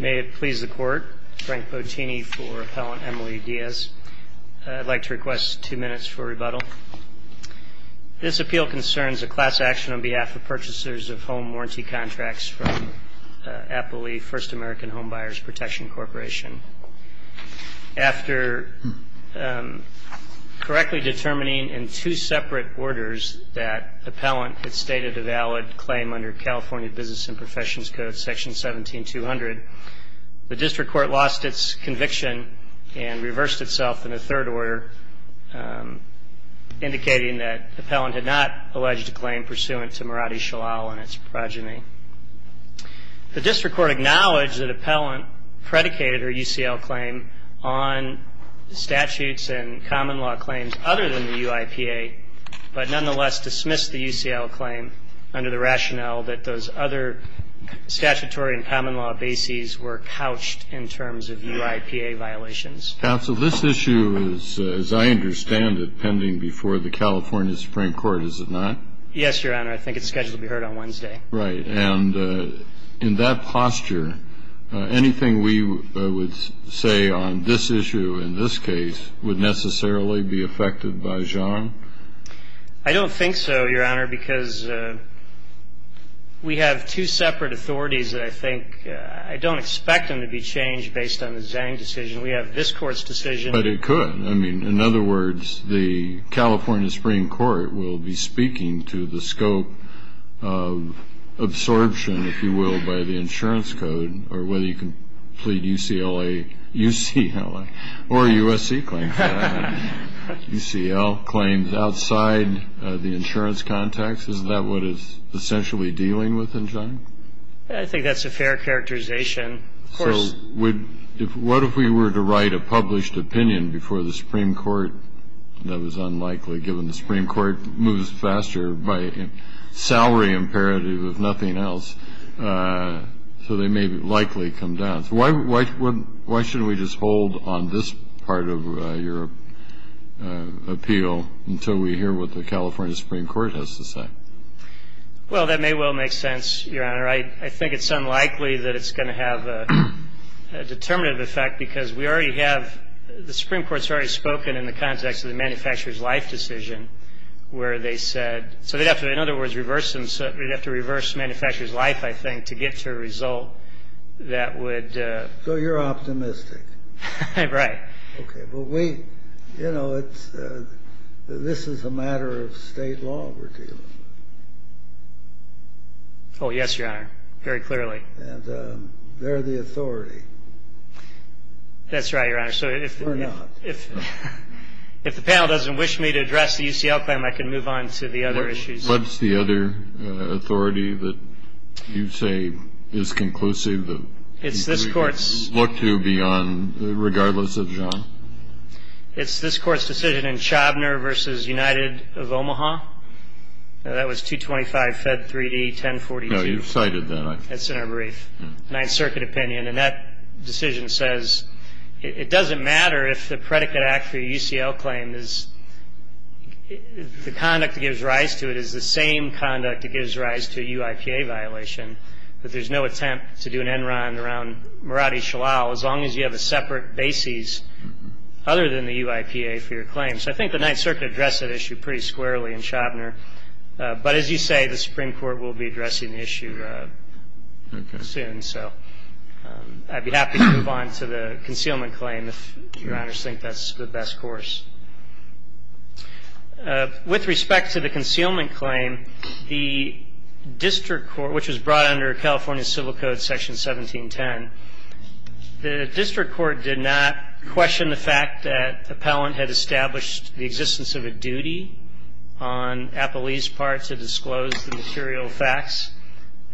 May it please the Court, Frank Bottini for Appellant Emily Diaz. I'd like to request two minutes for rebuttal. This appeal concerns a class action on behalf of purchasers of home warranty contracts from Appleby First American Home Buyers Protection Corporation. After correctly determining in two separate orders that Appellant had stated a valid claim under California Business and Professions Code, Section 17200, the District Court lost its conviction and reversed itself in a third order indicating that Appellant had not alleged a claim pursuant to Maradi Shalal and its progeny. The District Court acknowledged that Appellant predicated her UCL claim on statutes and common law claims other than the UIPA, but nonetheless dismissed the UCL claim under the rationale that those other statutory and common law bases were couched in terms of UIPA violations. Counsel, this issue is, as I understand it, pending before the California Supreme Court, is it not? Yes, Your Honor. I think it's scheduled to be heard on Wednesday. Right. And in that posture, anything we would say on this issue in this case would necessarily be affected by Zhang? I don't think so, Your Honor, because we have two separate authorities that I think I don't expect them to be changed based on the Zhang decision. We have this Court's decision But it could. I mean, in other words, the California Supreme Court will be speaking to the scope of absorption, if you will, by the insurance code or whether you can plead UCLA or USC claims. UCL claims outside the insurance context. Is that what it's essentially dealing with in Zhang? I think that's a fair characterization. So what if we were to write a published opinion before the Supreme Court? That was unlikely, given the Supreme Court moves faster by salary imperative, if nothing else. So they may likely come down. Why shouldn't we just hold on this part of your appeal until we hear what the California Supreme Court has to say? Well, that may well make sense, Your Honor. I think it's unlikely that it's going to have a determinative effect, because we already have the Supreme Court's already spoken in the context of the manufacturer's life decision, where they said so they'd have to, in other words, reverse the manufacturer's life, I think, to get to a result that would... So you're optimistic? Right. Okay. But we, you know, this is a matter of state law we're dealing with. Oh, yes, Your Honor. Very clearly. And they're the authority. That's right, Your Honor. Or not. So if the panel doesn't wish me to address the UCL claim, I can move on to the other issues. What's the other authority that you say is conclusive that we could look to beyond... regardless of John? It's this Court's decision in Chobner v. United of Omaha. That was 225 Fed 3D, 1042. No, you've cited that. That's in our brief. Ninth Circuit opinion. And that decision says it doesn't matter if the predicate act for a UCL claim is... the conduct that gives rise to it is the same conduct that gives rise to a UIPA violation, that there's no attempt to do an Enron around Maradi Shalal, as long as you have a separate basis other than the UIPA for your claim. So I think the Ninth Circuit addressed that issue pretty squarely in Chobner. But as you say, the Supreme Court will be addressing the issue soon. So I'd be happy to move on to the concealment claim if Your Honors think that's the best course. With respect to the concealment claim, the district court, which was brought under California Civil Code Section 1710, the district court did not question the fact that the appellant had established the existence of a duty on Appelee's part to disclose the material facts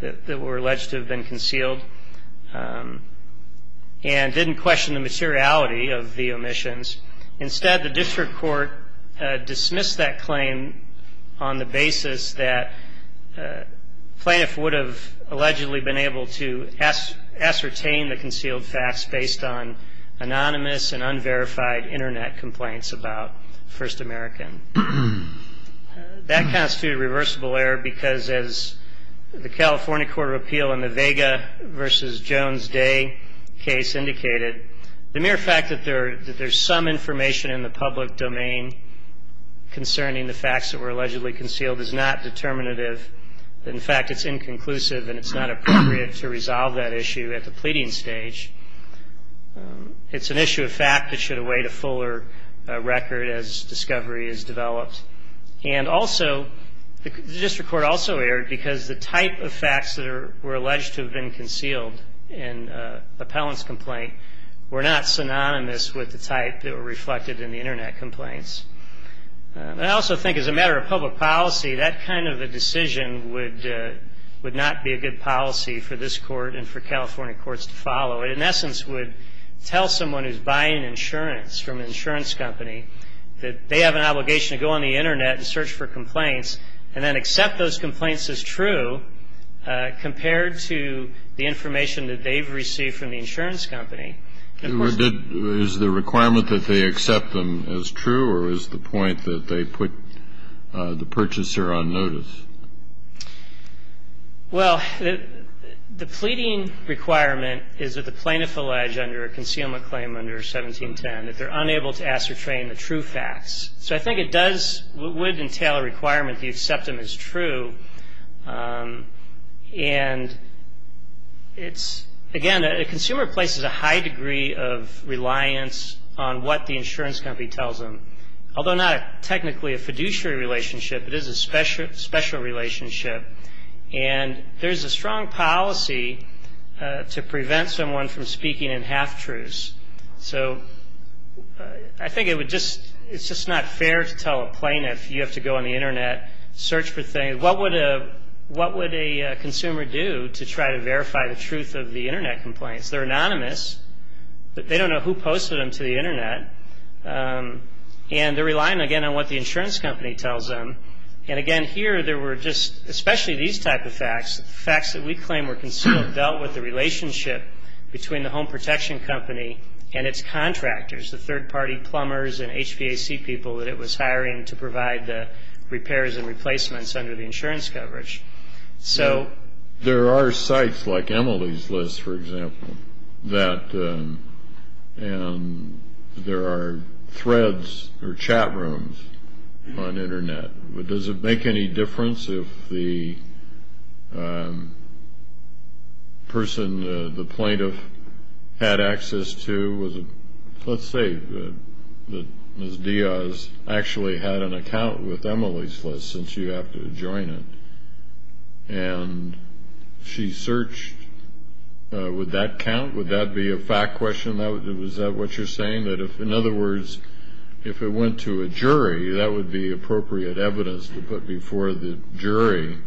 that were alleged to have been concealed, and didn't question the materiality of the omissions. Instead, the district court dismissed that claim on the basis that plaintiff would have allegedly been able to ascertain the concealed facts based on anonymous and unverified Internet complaints about First American. That constitutes a reversible error because, as the California Court of Appeal in the Vega v. Jones Day case indicated, the mere fact that there's some information in the public domain concerning the facts that were allegedly concealed is not determinative. In fact, it's inconclusive, and it's not appropriate to resolve that issue at the pleading stage. It's an issue of fact that should await a fuller record as discovery is developed. And also, the district court also erred because the type of facts that were alleged to have been concealed in an appellant's complaint were not synonymous with the type that were reflected in the Internet complaints. And I also think, as a matter of public policy, that kind of a decision would not be a good policy for this Court and for California courts to follow. It, in essence, would tell someone who's buying insurance from an insurance company that they have an obligation to go on the Internet and search for complaints and then accept those complaints as true compared to the information that they've received from the insurance company. Kennedy. Is the requirement that they accept them as true, or is the point that they put the purchaser on notice? Well, the pleading requirement is that the plaintiff allege under a concealment claim under 1710 that they're unable to ascertain the true facts. So I think it does would entail a requirement to accept them as true. And it's, again, a consumer places a high degree of reliance on what the insurance company tells them. Although not technically a fiduciary relationship, it is a special relationship. And there's a strong policy to prevent someone from speaking in half-truths. So I think it would just, it's just not fair to tell a plaintiff you have to go on the Internet, search for things. What would a consumer do to try to verify the truth of the Internet complaints? They're anonymous, but they don't know who posted them to the Internet. And they're relying, again, on what the insurance company tells them. And, again, here there were just, especially these type of facts, facts that we claim were concealed, dealt with the relationship between the HVAC people that it was hiring to provide the repairs and replacements under the insurance coverage. So there are sites like EMILY's List, for example, that there are threads or chat rooms on Internet. But does it make any difference if the person, the plaintiff, had access to, let's say, Ms. Diaz actually had an account with EMILY's List, since you have to join it, and she searched? Would that count? Would that be a fact question? Is that what you're saying, that if, in other words, if it went to a jury, that would be appropriate evidence to put before the jury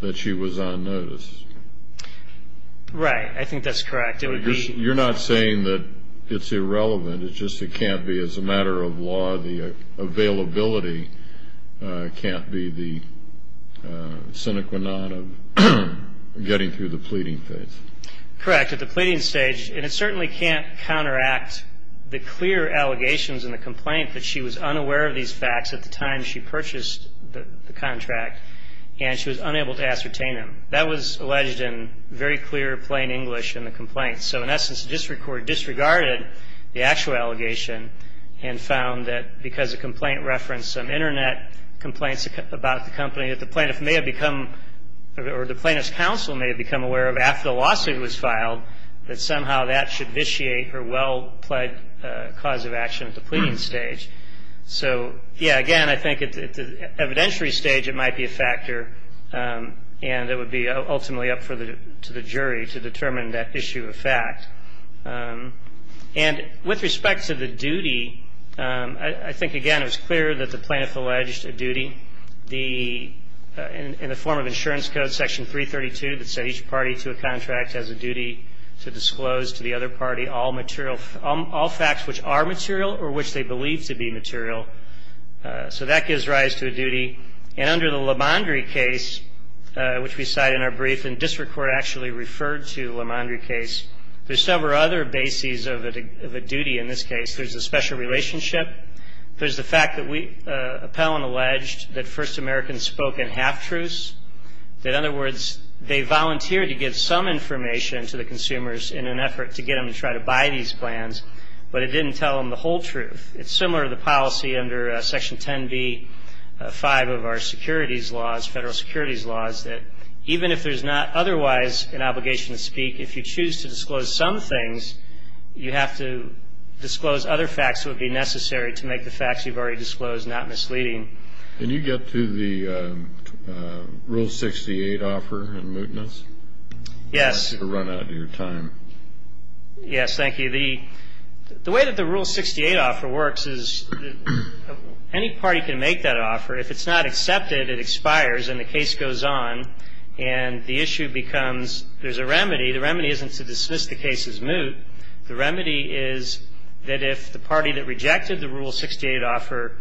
that she was on notice? Right. I think that's correct. It would be... You're not saying that it's irrelevant. It's just it can't be, as a matter of law, the availability can't be the sine qua non of getting through the pleading phase. Correct. At the pleading stage, and it certainly can't counteract the clear allegations in the complaint that she was alleged in very clear, plain English in the complaint. So, in essence, it disregarded the actual allegation and found that, because the complaint referenced some Internet complaints about the company, that the plaintiff may have become, or the plaintiff's counsel may have become aware of, after the lawsuit was filed, that somehow that should vitiate her well-plead cause of action at the pleading stage. So, yeah, again, I think at the evidentiary stage, it might be a factor, and it would be, ultimately, up to the jury to determine that issue of fact. And with respect to the duty, I think, again, it was clear that the plaintiff alleged a duty. In the form of Insurance Code, Section 332, that said each party to a contract has a duty to disclose to the other party all facts which are material or which they believe to be material. So that gives rise to a duty. And under the LaMondrie case, which we cite in our brief, and District Court actually referred to LaMondrie case, there's several other bases of a duty in this case. There's a special relationship. There's the fact that we, Appellant alleged, that First Americans spoke in half-truths. In other words, they volunteered to give some information to the consumers in an effort to get them to try to buy these plans, but it didn't tell them the whole truth. It's similar to the policy under Section 10b-5 of our securities laws, federal securities laws, that even if there's not otherwise an obligation to speak, if you choose to disclose some things, you have to disclose other facts that would be necessary to make the facts you've already disclosed not misleading. And you get to the Rule 68 offer in mootness? Yes. And that's a run-out of your time. Yes. Thank you. The way that the Rule 68 offer works is any party can make that offer. If it's not accepted, it expires and the case goes on, and the issue becomes there's a remedy. The remedy isn't to dismiss the case as moot. The remedy is that if the party that rejected the Rule 68 offer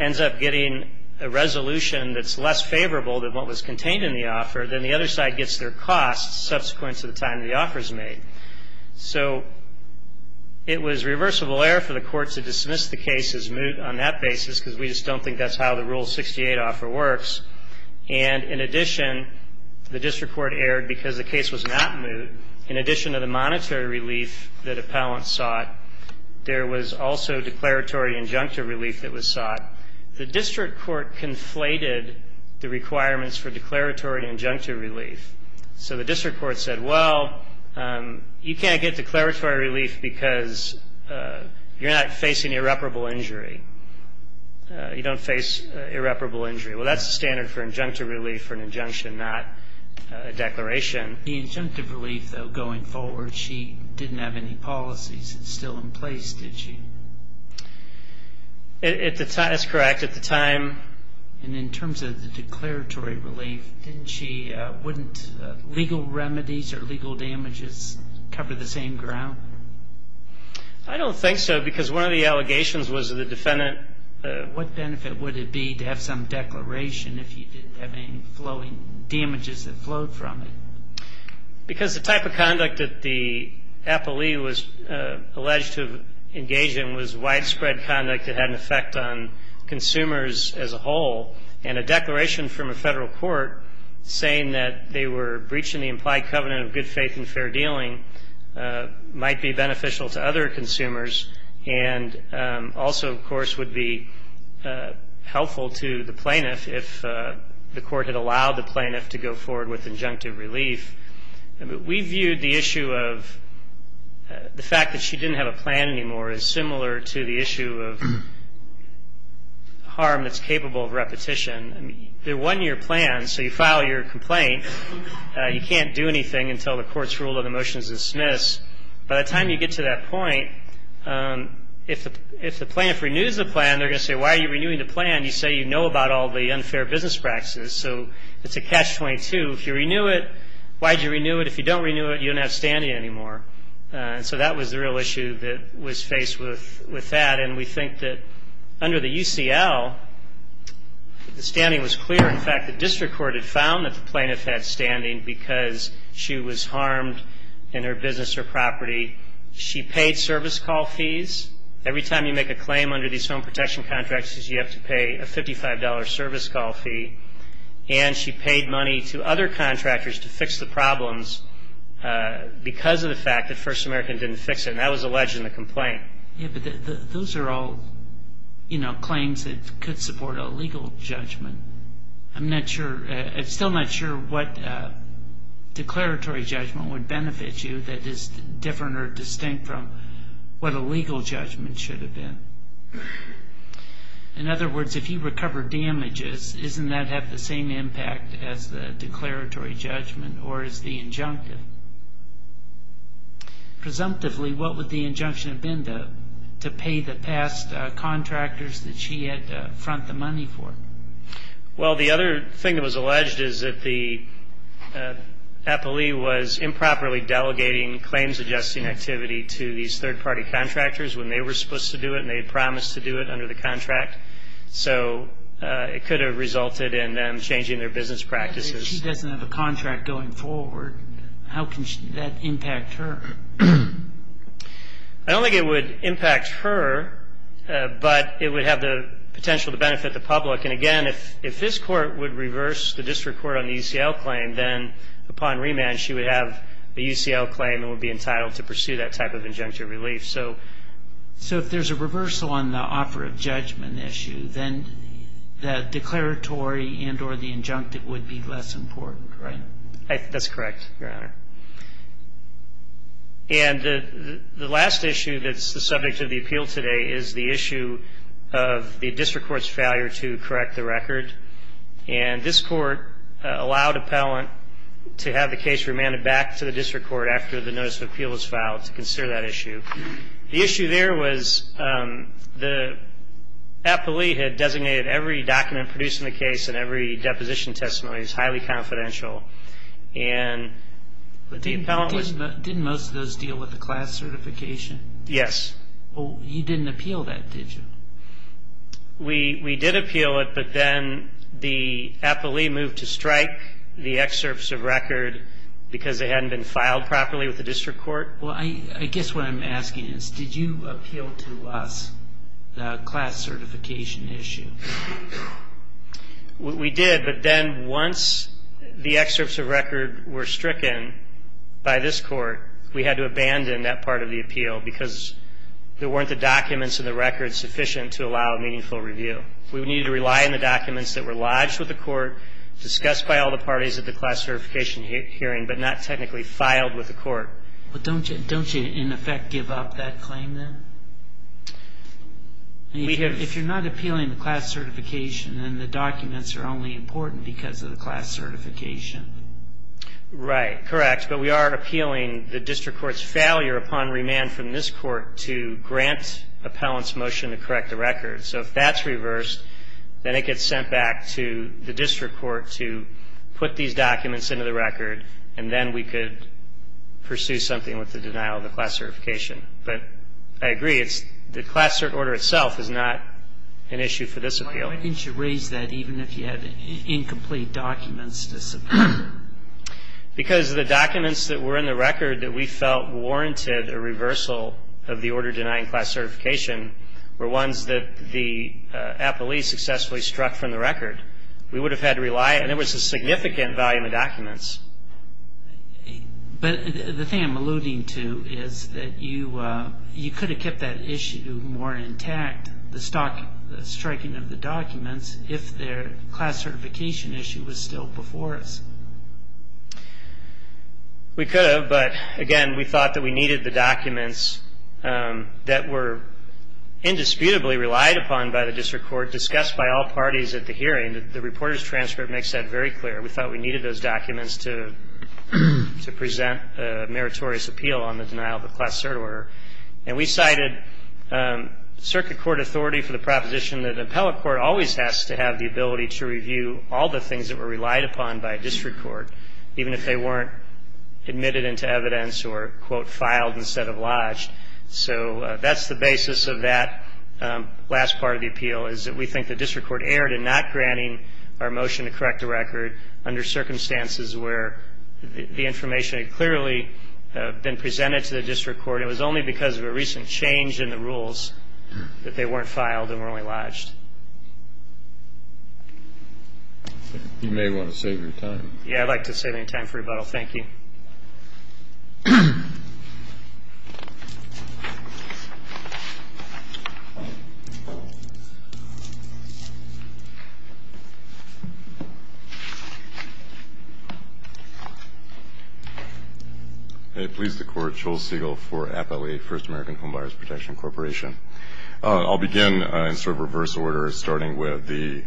ends up getting a resolution that's less favorable than what was contained in the offer, then the other side gets their costs subsequent to the time the offer's made. So it was reversible error for the Court to dismiss the case as moot on that basis, because we just don't think that's how the Rule 68 offer works. And in addition, the district court erred because the case was not moot. In addition to the monetary relief that appellant sought, there was also declaratory injunctive relief that was sought. The district court conflated the requirements for declaratory injunctive relief. So the district court said, well, you can't get declaratory relief because you're not facing irreparable injury. You don't face irreparable injury. Well, that's the standard for injunctive relief for an injunction, not a declaration. The injunctive relief, though, going forward, she didn't have any policies still in place, did she? That's correct. At the time... And in terms of the declaratory relief, wouldn't legal remedies or legal damages cover the same ground? I don't think so, because one of the allegations was that the defendant... Because the type of conduct that the appellee was alleged to have engaged in was widespread conduct that had an effect on consumers as a whole. And a declaration from a Federal Court saying that they were breaching the implied covenant of good faith and fair dealing might be beneficial to other consumers and also, of course, would be helpful to the plaintiff if the court had allowed the plaintiff to go forward with injunctive relief. We viewed the issue of the fact that she didn't have a plan anymore as similar to the issue of harm that's capable of repetition. There wasn't your plan, so you file your complaint. You can't do anything until the court's rule of the motion is dismissed. By the time you get to that you know about all the unfair business practices, so it's a catch-22. If you renew it, why'd you renew it? If you don't renew it, you don't have standing anymore. So that was the real issue that was faced with that. And we think that under the UCL, the standing was clear. In fact, the district court had found that the plaintiff had standing because she was harmed in her business or property. She paid service call fees. Every time you make a claim under these home protection contracts, you have to pay a $55 service call fee. And she paid money to other contractors to fix the problems because of the fact that First American didn't fix it. And that was alleged in the complaint. Those are all claims that could support a legal judgment. I'm still not sure what declaratory judgment would benefit you that is different or distinct from what a legal judgment should have been. In other words, if you recover damages, doesn't that have the same impact as the declaratory judgment or as the injunctive? Presumptively, what would the injunction have been to pay the past contractors that she had to improperly delegating claims-adjusting activity to these third-party contractors when they were supposed to do it and they had promised to do it under the contract? So it could have resulted in them changing their business practices. If she doesn't have a contract going forward, how can that impact her? I don't think it would impact her, but it would have the potential to benefit the public. And again, if this Court would reverse the district court on the UCL claim, then upon remand she would have a UCL claim and would be entitled to pursue that type of injunctive relief. So if there's a reversal on the offer of judgment issue, then the declaratory and or the injunctive would be less important, right? That's correct, Your Honor. And the last issue that's the subject of the appeal today is the issue of the district court's failure to correct the record. And this court allowed appellant to have the case remanded back to the district court after the notice of appeal was filed to consider that issue. The issue there was the appellee had designated every document produced in the case and every deposition testimony as highly confidential. But didn't most of those deal with the class certification? Yes. Well, you didn't appeal that, did you? We did appeal it, but then the appellee moved to strike the excerpts of record because they hadn't been filed properly with the district court. Well, I guess what I'm asking is, did you appeal to us the class certification issue? We did, but then once the excerpts of record were stricken by this court, we had to abandon that part of the appeal because there weren't the documents in the record sufficient to allow meaningful review. We needed to rely on the documents that were lodged with the court, discussed by all the parties at the class certification hearing, but not technically filed with the court. But don't you in effect give up that claim, then? If you're not appealing the class certification, then the documents are only important because of the class certification. Right, correct, but we are appealing the district court's failure upon remand from this court to grant appellant's motion to correct the record. So if that's reversed, then it gets sent back to the district court to put these documents into the record, and then we could pursue something with the denial of the class certification. But I agree, the class cert order itself is not an issue for this appeal. Why didn't you raise that even if you had incomplete documents to submit? Because the documents that were in the record that we felt warranted a reversal of the order denying class certification were ones that the appellee successfully struck from the record. We would have had to rely, and there was a significant volume of documents. But the thing I'm alluding to is that you could have kept that issue more intact, the striking of the documents, if their class certification issue was still before us. We could have, but again, we thought that we needed the documents that were indisputably relied upon by the district court, discussed by all parties at the hearing. The reporter's transcript makes that very clear. We thought we needed those documents to present a meritorious appeal on the denial of the class cert order. And we cited circuit court authority for the proposition that an appellate court always has to have the ability to review all the things that were relied upon by a district court, even if they weren't admitted into evidence or, quote, filed instead of lodged. So that's the basis of that last part of the appeal, is that we think the district court erred in not granting the appeal. We think the district court erred in not granting our motion to correct the record under circumstances where the information had clearly been presented to the district court, and it was only because of a recent change in the rules that they weren't filed and were only lodged. You may want to save your time. Yes, I'd like to save any time for rebuttal. Thank you. Okay. Please, the court. Joel Siegel for Appellate First American Homebuyers Protection Corporation. I'll begin in sort of reverse order, starting with the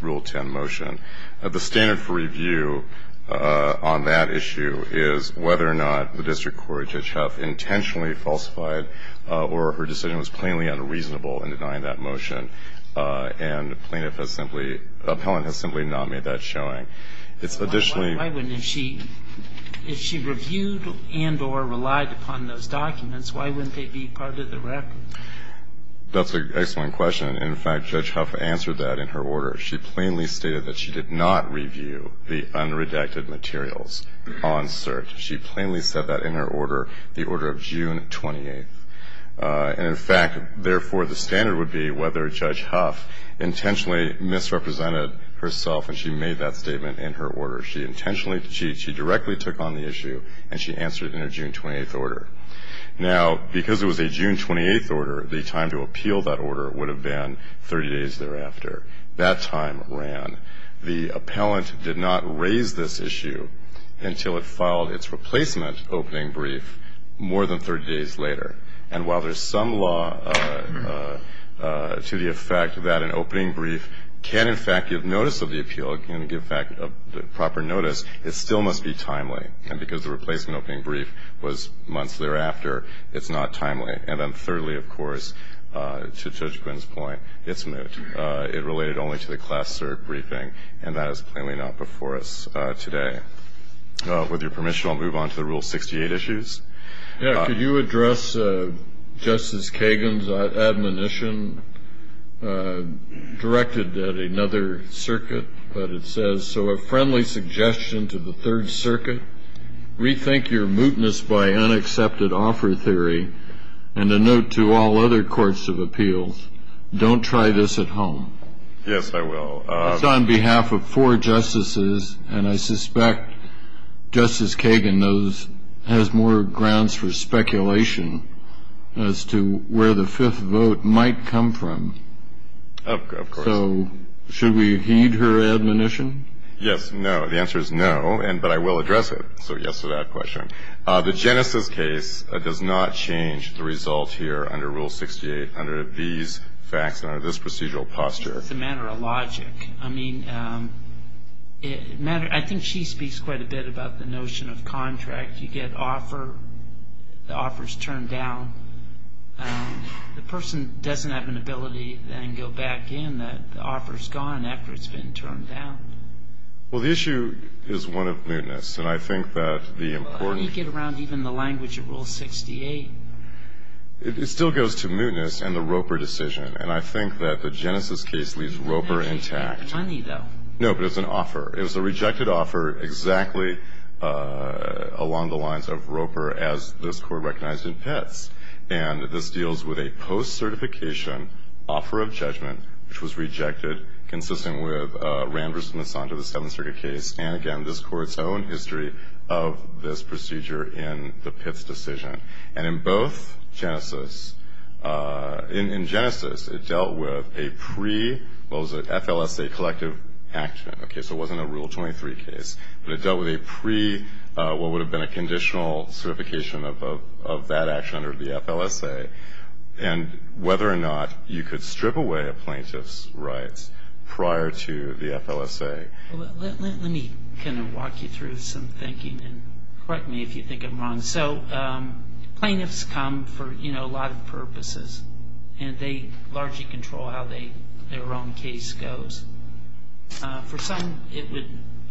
rule 10 motion. The standard for review on that issue is whether or not the district court, Judge Huff, intentionally falsified or her decision was plainly unreasonable in denying that motion, and plaintiff has simply – appellant has simply not made that showing. It's additionally – Why wouldn't – if she reviewed and or relied upon those documents, why wouldn't they be part of the record? That's an excellent question. In fact, Judge Huff answered that in her order. She plainly stated that she did not review the unredacted materials on cert. She plainly said that in her order, the order of June 28th. And in fact, therefore, the standard would be whether Judge Huff intentionally misrepresented herself when she made that statement in her order. She intentionally – she directly took on the issue, and she answered in her June 28th order. Now, because it was a June 28th order, the time to appeal that order would have been 30 days thereafter. That time ran. The appellant did not raise this issue until it filed its replacement opening brief more than 30 days later. And while there's some law to the effect that an opening brief can, in fact, give notice of the appeal, can give proper notice, it still must be timely. And because the replacement opening brief was months thereafter, it's not timely. And then thirdly, of course, to Judge Quinn's point, it's moot. It related only to the class cert briefing, and that is plainly not before us today. With your permission, I'll move on to the Rule 68 issues. Yeah. Could you address Justice Kagan's admonition directed at another circuit that it says, so a friendly suggestion to the Third Circuit, rethink your mootness by unaccepted offer theory, and a note to all other courts of appeals, don't try this at home. Yes, I will. It's on behalf of four justices, and I suspect Justice Kagan knows – has more grounds for speculation as to where the fifth vote might come from. Of course. So should we heed her admonition? Yes, no. The answer is no, but I will address it. So yes to that question. The Genesis case does not change the result here under Rule 68 under these facts and under this procedural posture. I think it's a matter of logic. I mean, I think she speaks quite a bit about the notion of contract. You get offer, the offer's turned down. The person doesn't have an ability then to go back in. The offer's gone after it's been turned down. Well, the issue is one of mootness, and I think that the important – Well, how do you get around even the language of Rule 68? It still goes to mootness and the Roper decision, and I think that the Genesis case leaves Roper intact. But it's an offer. It was a rejected offer exactly along the lines of Roper as this Court recognized in Pitts, and this deals with a post-certification offer of judgment, which was rejected, consistent with Rand versus Monsanto, the Seventh Circuit case, and, again, this Court's own history of this procedure in the Pitts decision. And in both Genesis – in Genesis, it dealt with a pre-FLSA collective action. Okay, so it wasn't a Rule 23 case, but it dealt with a pre-what would have been a conditional certification of that action under the FLSA, and whether or not you could strip away a plaintiff's rights prior to the FLSA. Let me kind of walk you through some thinking, and correct me if you think I'm wrong. So plaintiffs come for, you know, a lot of purposes, and they largely control how their own case goes. For some, it would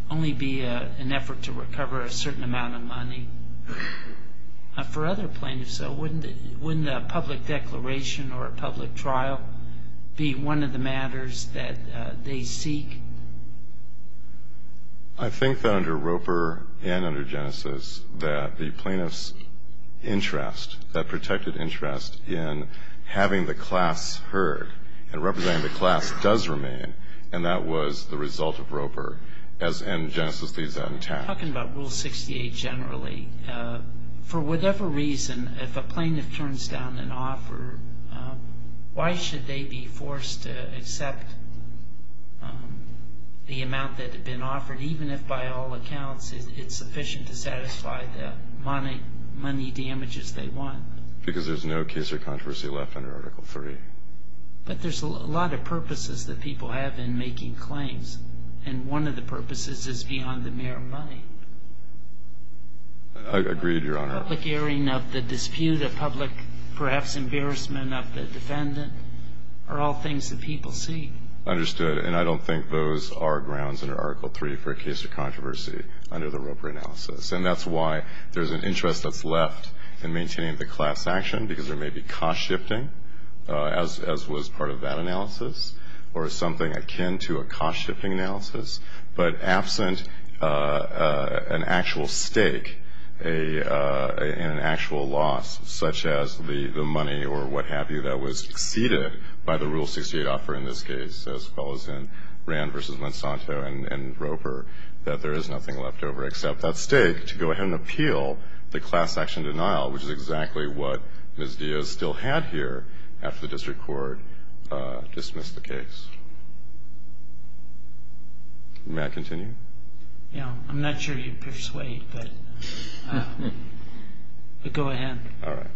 only be an effort to recover a certain amount of money. For other plaintiffs, though, wouldn't a public declaration or a public trial be one of the matters that they seek? I think that under Roper and under Genesis that the plaintiff's interest, that protected interest in having the class heard and representing the class does remain, and that was the result of Roper, and Genesis leaves that intact. I'm talking about Rule 68 generally. For whatever reason, if a plaintiff turns down an offer, why should they be forced to accept the amount that had been offered, even if by all accounts it's sufficient to satisfy the money damages they want? Because there's no case or controversy left under Article III. But there's a lot of purposes that people have in making claims, and one of the purposes is beyond the mere money. I agree, Your Honor. Public airing of the dispute, a public perhaps embarrassment of the defendant are all things that people seek. Understood. And I don't think those are grounds under Article III for a case of controversy under the Roper analysis. And that's why there's an interest that's left in maintaining the class action, because there may be cost shifting, as was part of that analysis, or something akin to a cost shifting analysis, but absent an actual stake in an actual loss, such as the money or what have you, that was exceeded by the Rule 68 offer in this case, as well as in Rand v. Monsanto and Roper, that there is nothing left over except that stake to go ahead and appeal the class action denial, which is exactly what Ms. Diaz still had here after the district court dismissed the case. May I continue? Yeah. I'm not sure you'd persuade, but go ahead. All right.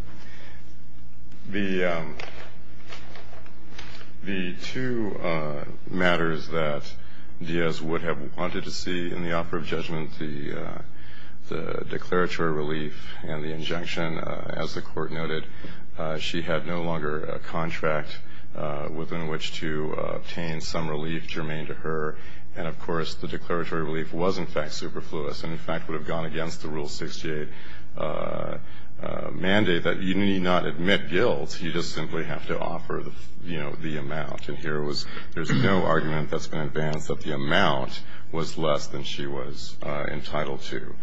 The two matters that Diaz would have wanted to see in the offer of judgment, the declaratory relief and the injunction, as the court noted, she had no longer a contract within which to obtain some relief to remain to her. And, of course, the declaratory relief was, in fact, superfluous and, in fact, would have gone against the Rule 68 mandate that you need not admit guilt, you just simply have to offer, you know, the amount. There's no argument that's been advanced that the amount was less than she was entitled to.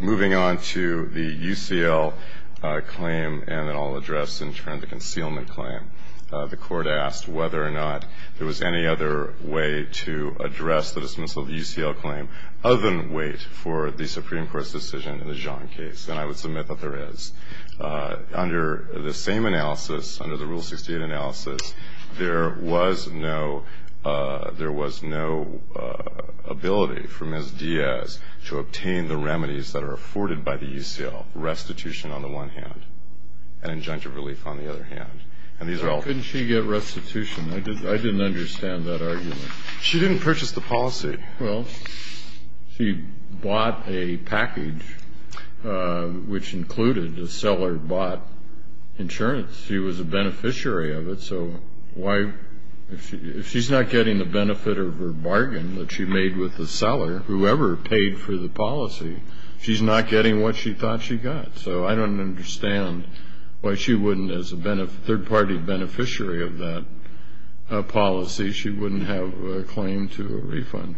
Moving on to the UCL claim and then I'll address in turn the concealment claim. The court asked whether or not there was any other way to address the dismissal of the UCL claim other than wait for the Supreme Court's decision in the Jean case, and I would submit that there is. Under the same analysis, under the Rule 68 analysis, there was no ability for Ms. Diaz to obtain the remedies that are afforded by the UCL, restitution on the one hand and injunctive relief on the other hand. Couldn't she get restitution? I didn't understand that argument. She didn't purchase the policy. Well, she bought a package which included a seller-bought insurance. She was a beneficiary of it, so if she's not getting the benefit of her bargain that she made with the seller, whoever paid for the policy, she's not getting what she thought she got. So I don't understand why she wouldn't, as a third-party beneficiary of that policy, she wouldn't have a claim to a refund.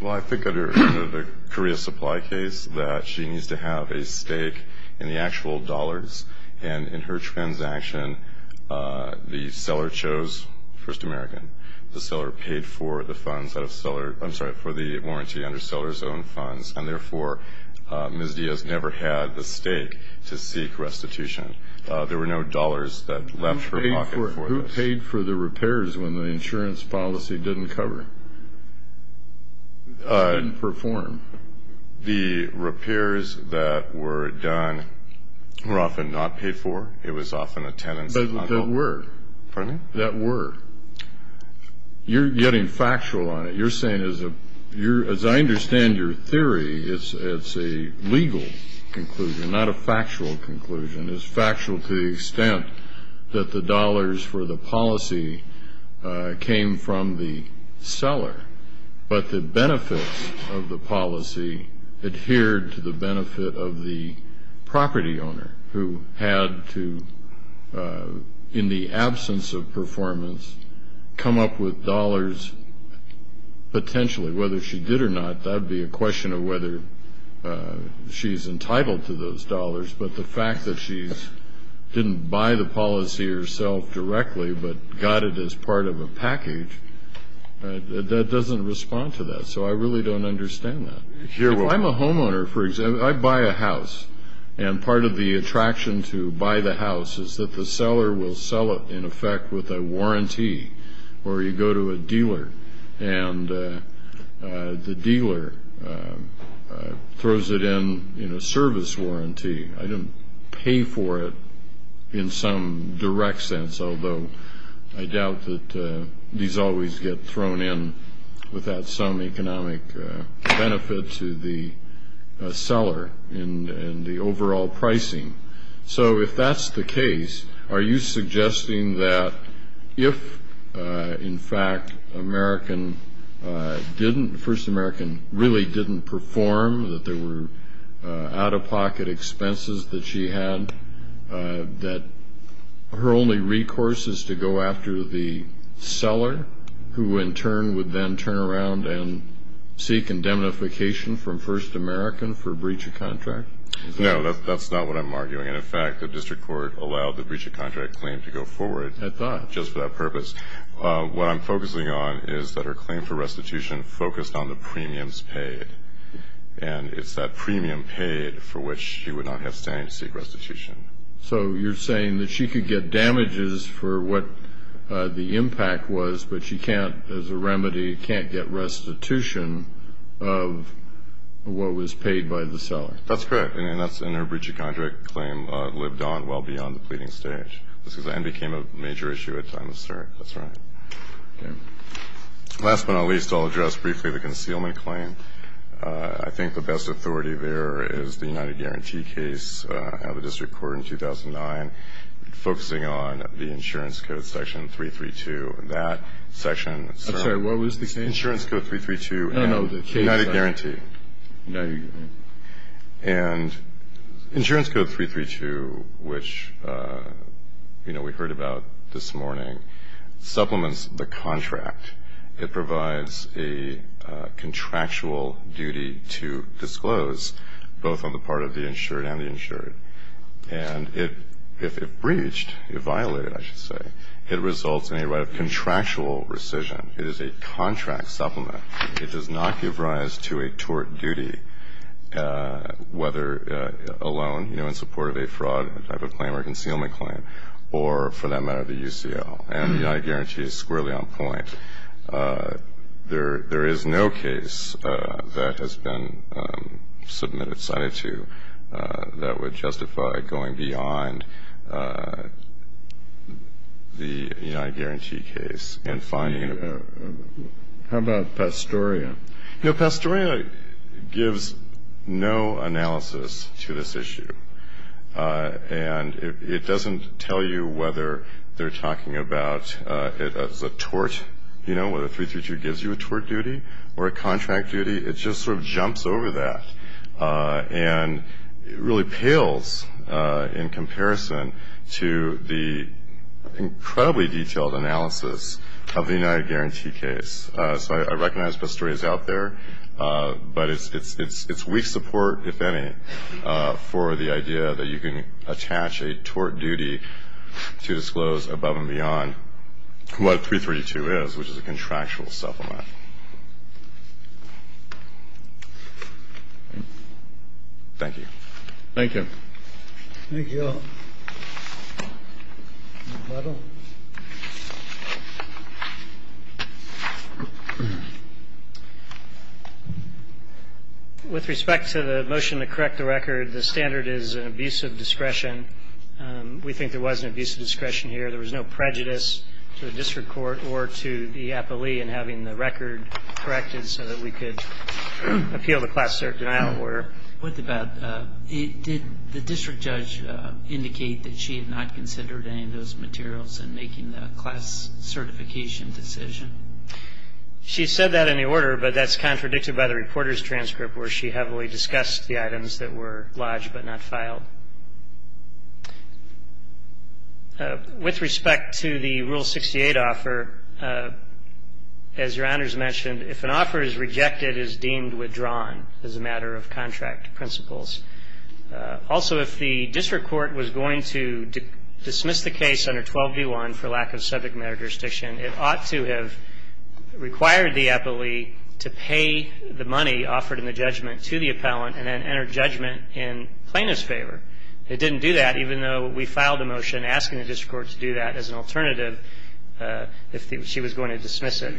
Well, I think under the Korea supply case that she needs to have a stake in the actual dollars, and in her transaction, the seller chose First American. The seller paid for the funds that a seller – I'm sorry, for the warranty under seller's own funds, and therefore Ms. Diaz never had the stake to seek restitution. There were no dollars that left her pocket for this. Who paid for the repairs when the insurance policy didn't cover? Didn't perform. The repairs that were done were often not paid for. It was often a tenant's – But that were. Pardon me? That were. You're getting factual on it. You're saying, as I understand your theory, it's a legal conclusion, not a factual conclusion. It's factual to the extent that the dollars for the policy came from the seller, but the benefit of the policy adhered to the benefit of the property owner, who had to, in the absence of performance, come up with dollars potentially. Whether she did or not, that would be a question of whether she's entitled to those dollars, but the fact that she didn't buy the policy herself directly but got it as part of a package, that doesn't respond to that. So I really don't understand that. If I'm a homeowner, for example, I buy a house, and part of the attraction to buy the house is that the seller will sell it, in effect, with a warranty, or you go to a dealer and the dealer throws it in in a service warranty. I don't pay for it in some direct sense, although I doubt that these always get thrown in without some economic benefit to the seller and the overall pricing. So if that's the case, are you suggesting that if, in fact, American didn't, First American really didn't perform, that there were out-of-pocket expenses that she had, that her only recourse is to go after the seller, who in turn would then turn around and seek indemnification from First American for breach of contract? No, that's not what I'm arguing. And, in fact, the district court allowed the breach of contract claim to go forward. I thought. Just for that purpose. What I'm focusing on is that her claim for restitution focused on the premiums paid, and it's that premium paid for which she would not have standing to seek restitution. So you're saying that she could get damages for what the impact was, but she can't, as a remedy, can't get restitution of what was paid by the seller? That's correct. And that's in her breach of contract claim lived on well beyond the pleading stage, and became a major issue at time of search. That's right. Okay. Last but not least, I'll address briefly the concealment claim. I think the best authority there is the United Guarantee case out of the district court in 2009, focusing on the insurance code section 332. That section. I'm sorry. What was the case? Insurance code 332. No, no, the case. United Guarantee. And insurance code 332, which, you know, we heard about this morning, supplements the contract. It provides a contractual duty to disclose, both on the part of the insured and the insured. And if it breached, if violated, I should say, it results in a right of contractual rescission. It is a contract supplement. It does not give rise to a tort duty, whether alone, you know, in support of a fraud type of claim or a concealment claim, or, for that matter, the UCL. And the United Guarantee is squarely on point. There is no case that has been submitted, cited to, that would justify going beyond the United Guarantee case and finding it. How about Pastoria? You know, Pastoria gives no analysis to this issue. And it doesn't tell you whether they're talking about it as a tort, you know, whether 332 gives you a tort duty or a contract duty. It just sort of jumps over that. And it really pales in comparison to the incredibly detailed analysis of the United Guarantee case. So I recognize Pastoria is out there. But it's weak support, if any, for the idea that you can attach a tort duty to disclose above and beyond what 332 is, which is a contractual supplement. Thank you. Thank you. Thank you all. With respect to the motion to correct the record, the standard is an abuse of discretion. We think there was an abuse of discretion here. There was no prejudice to the district court or to the appellee in having the record corrected so that we could appeal the class cert denial order. Did the district judge indicate that she had not considered any of those materials in making the class certification decision? She said that in the order, but that's contradicted by the reporter's transcript, where she heavily discussed the items that were lodged but not filed. With respect to the Rule 68 offer, as Your Honors mentioned, if an offer is rejected, it is deemed withdrawn as a matter of contract principles. Also, if the district court was going to dismiss the case under 12D1 for lack of subject matter jurisdiction, it ought to have required the appellee to pay the money offered in the judgment to the appellant and then enter judgment in plaintiff's favor. It didn't do that, even though we filed a motion asking the district court to do that as an alternative if she was going to dismiss it.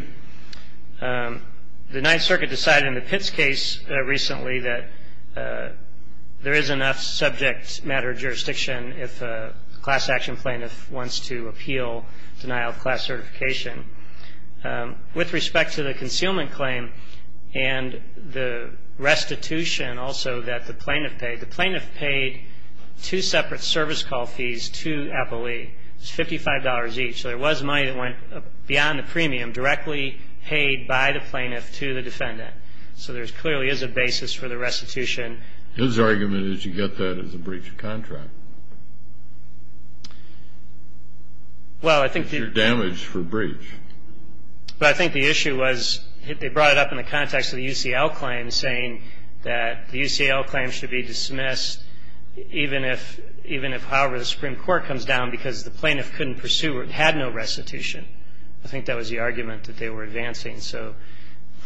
The Ninth Circuit decided in the Pitts case recently that there is enough subject matter jurisdiction if a class action plaintiff wants to appeal denial of class certification. With respect to the concealment claim and the restitution also that the plaintiff paid, the plaintiff paid two separate service call fees to appellee. It was $55 each. So there was money that went beyond the premium directly paid by the plaintiff to the defendant. So there clearly is a basis for the restitution. His argument is you get that as a breach of contract. Well, I think the issue was they brought it up in the context of the UCL claim, saying that the UCL claim should be dismissed even if, however, the Supreme Court comes down because the plaintiff couldn't pursue or had no restitution. I think that was the argument that they were advancing. So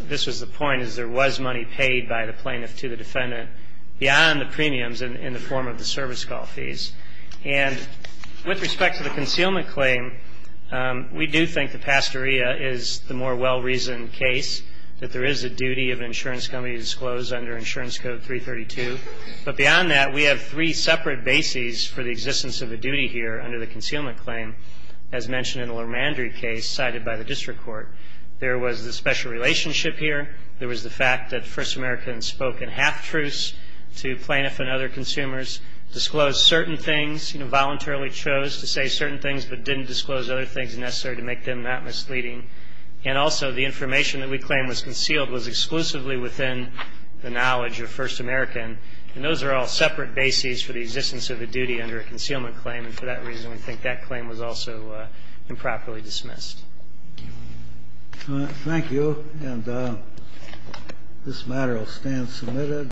this was the point, is there was money paid by the plaintiff to the defendant beyond the premiums in the form of the service call fees. And with respect to the concealment claim, we do think the pastorea is the more well-reasoned case, that there is a duty of an insurance company to disclose under Insurance Code 332. But beyond that, we have three separate bases for the existence of a duty here under the concealment claim, as mentioned in the Lermandry case cited by the district court. There was the special relationship here. There was the fact that First Americans spoke in half truce to plaintiff and other consumers, disclosed certain things, you know, voluntarily chose to say certain things but didn't disclose other things necessary to make them not misleading. And also the information that we claim was concealed was exclusively within the knowledge of First American. And those are all separate bases for the existence of a duty under a concealment claim. And for that reason, we think that claim was also improperly dismissed. Thank you. And this matter will stand submitted.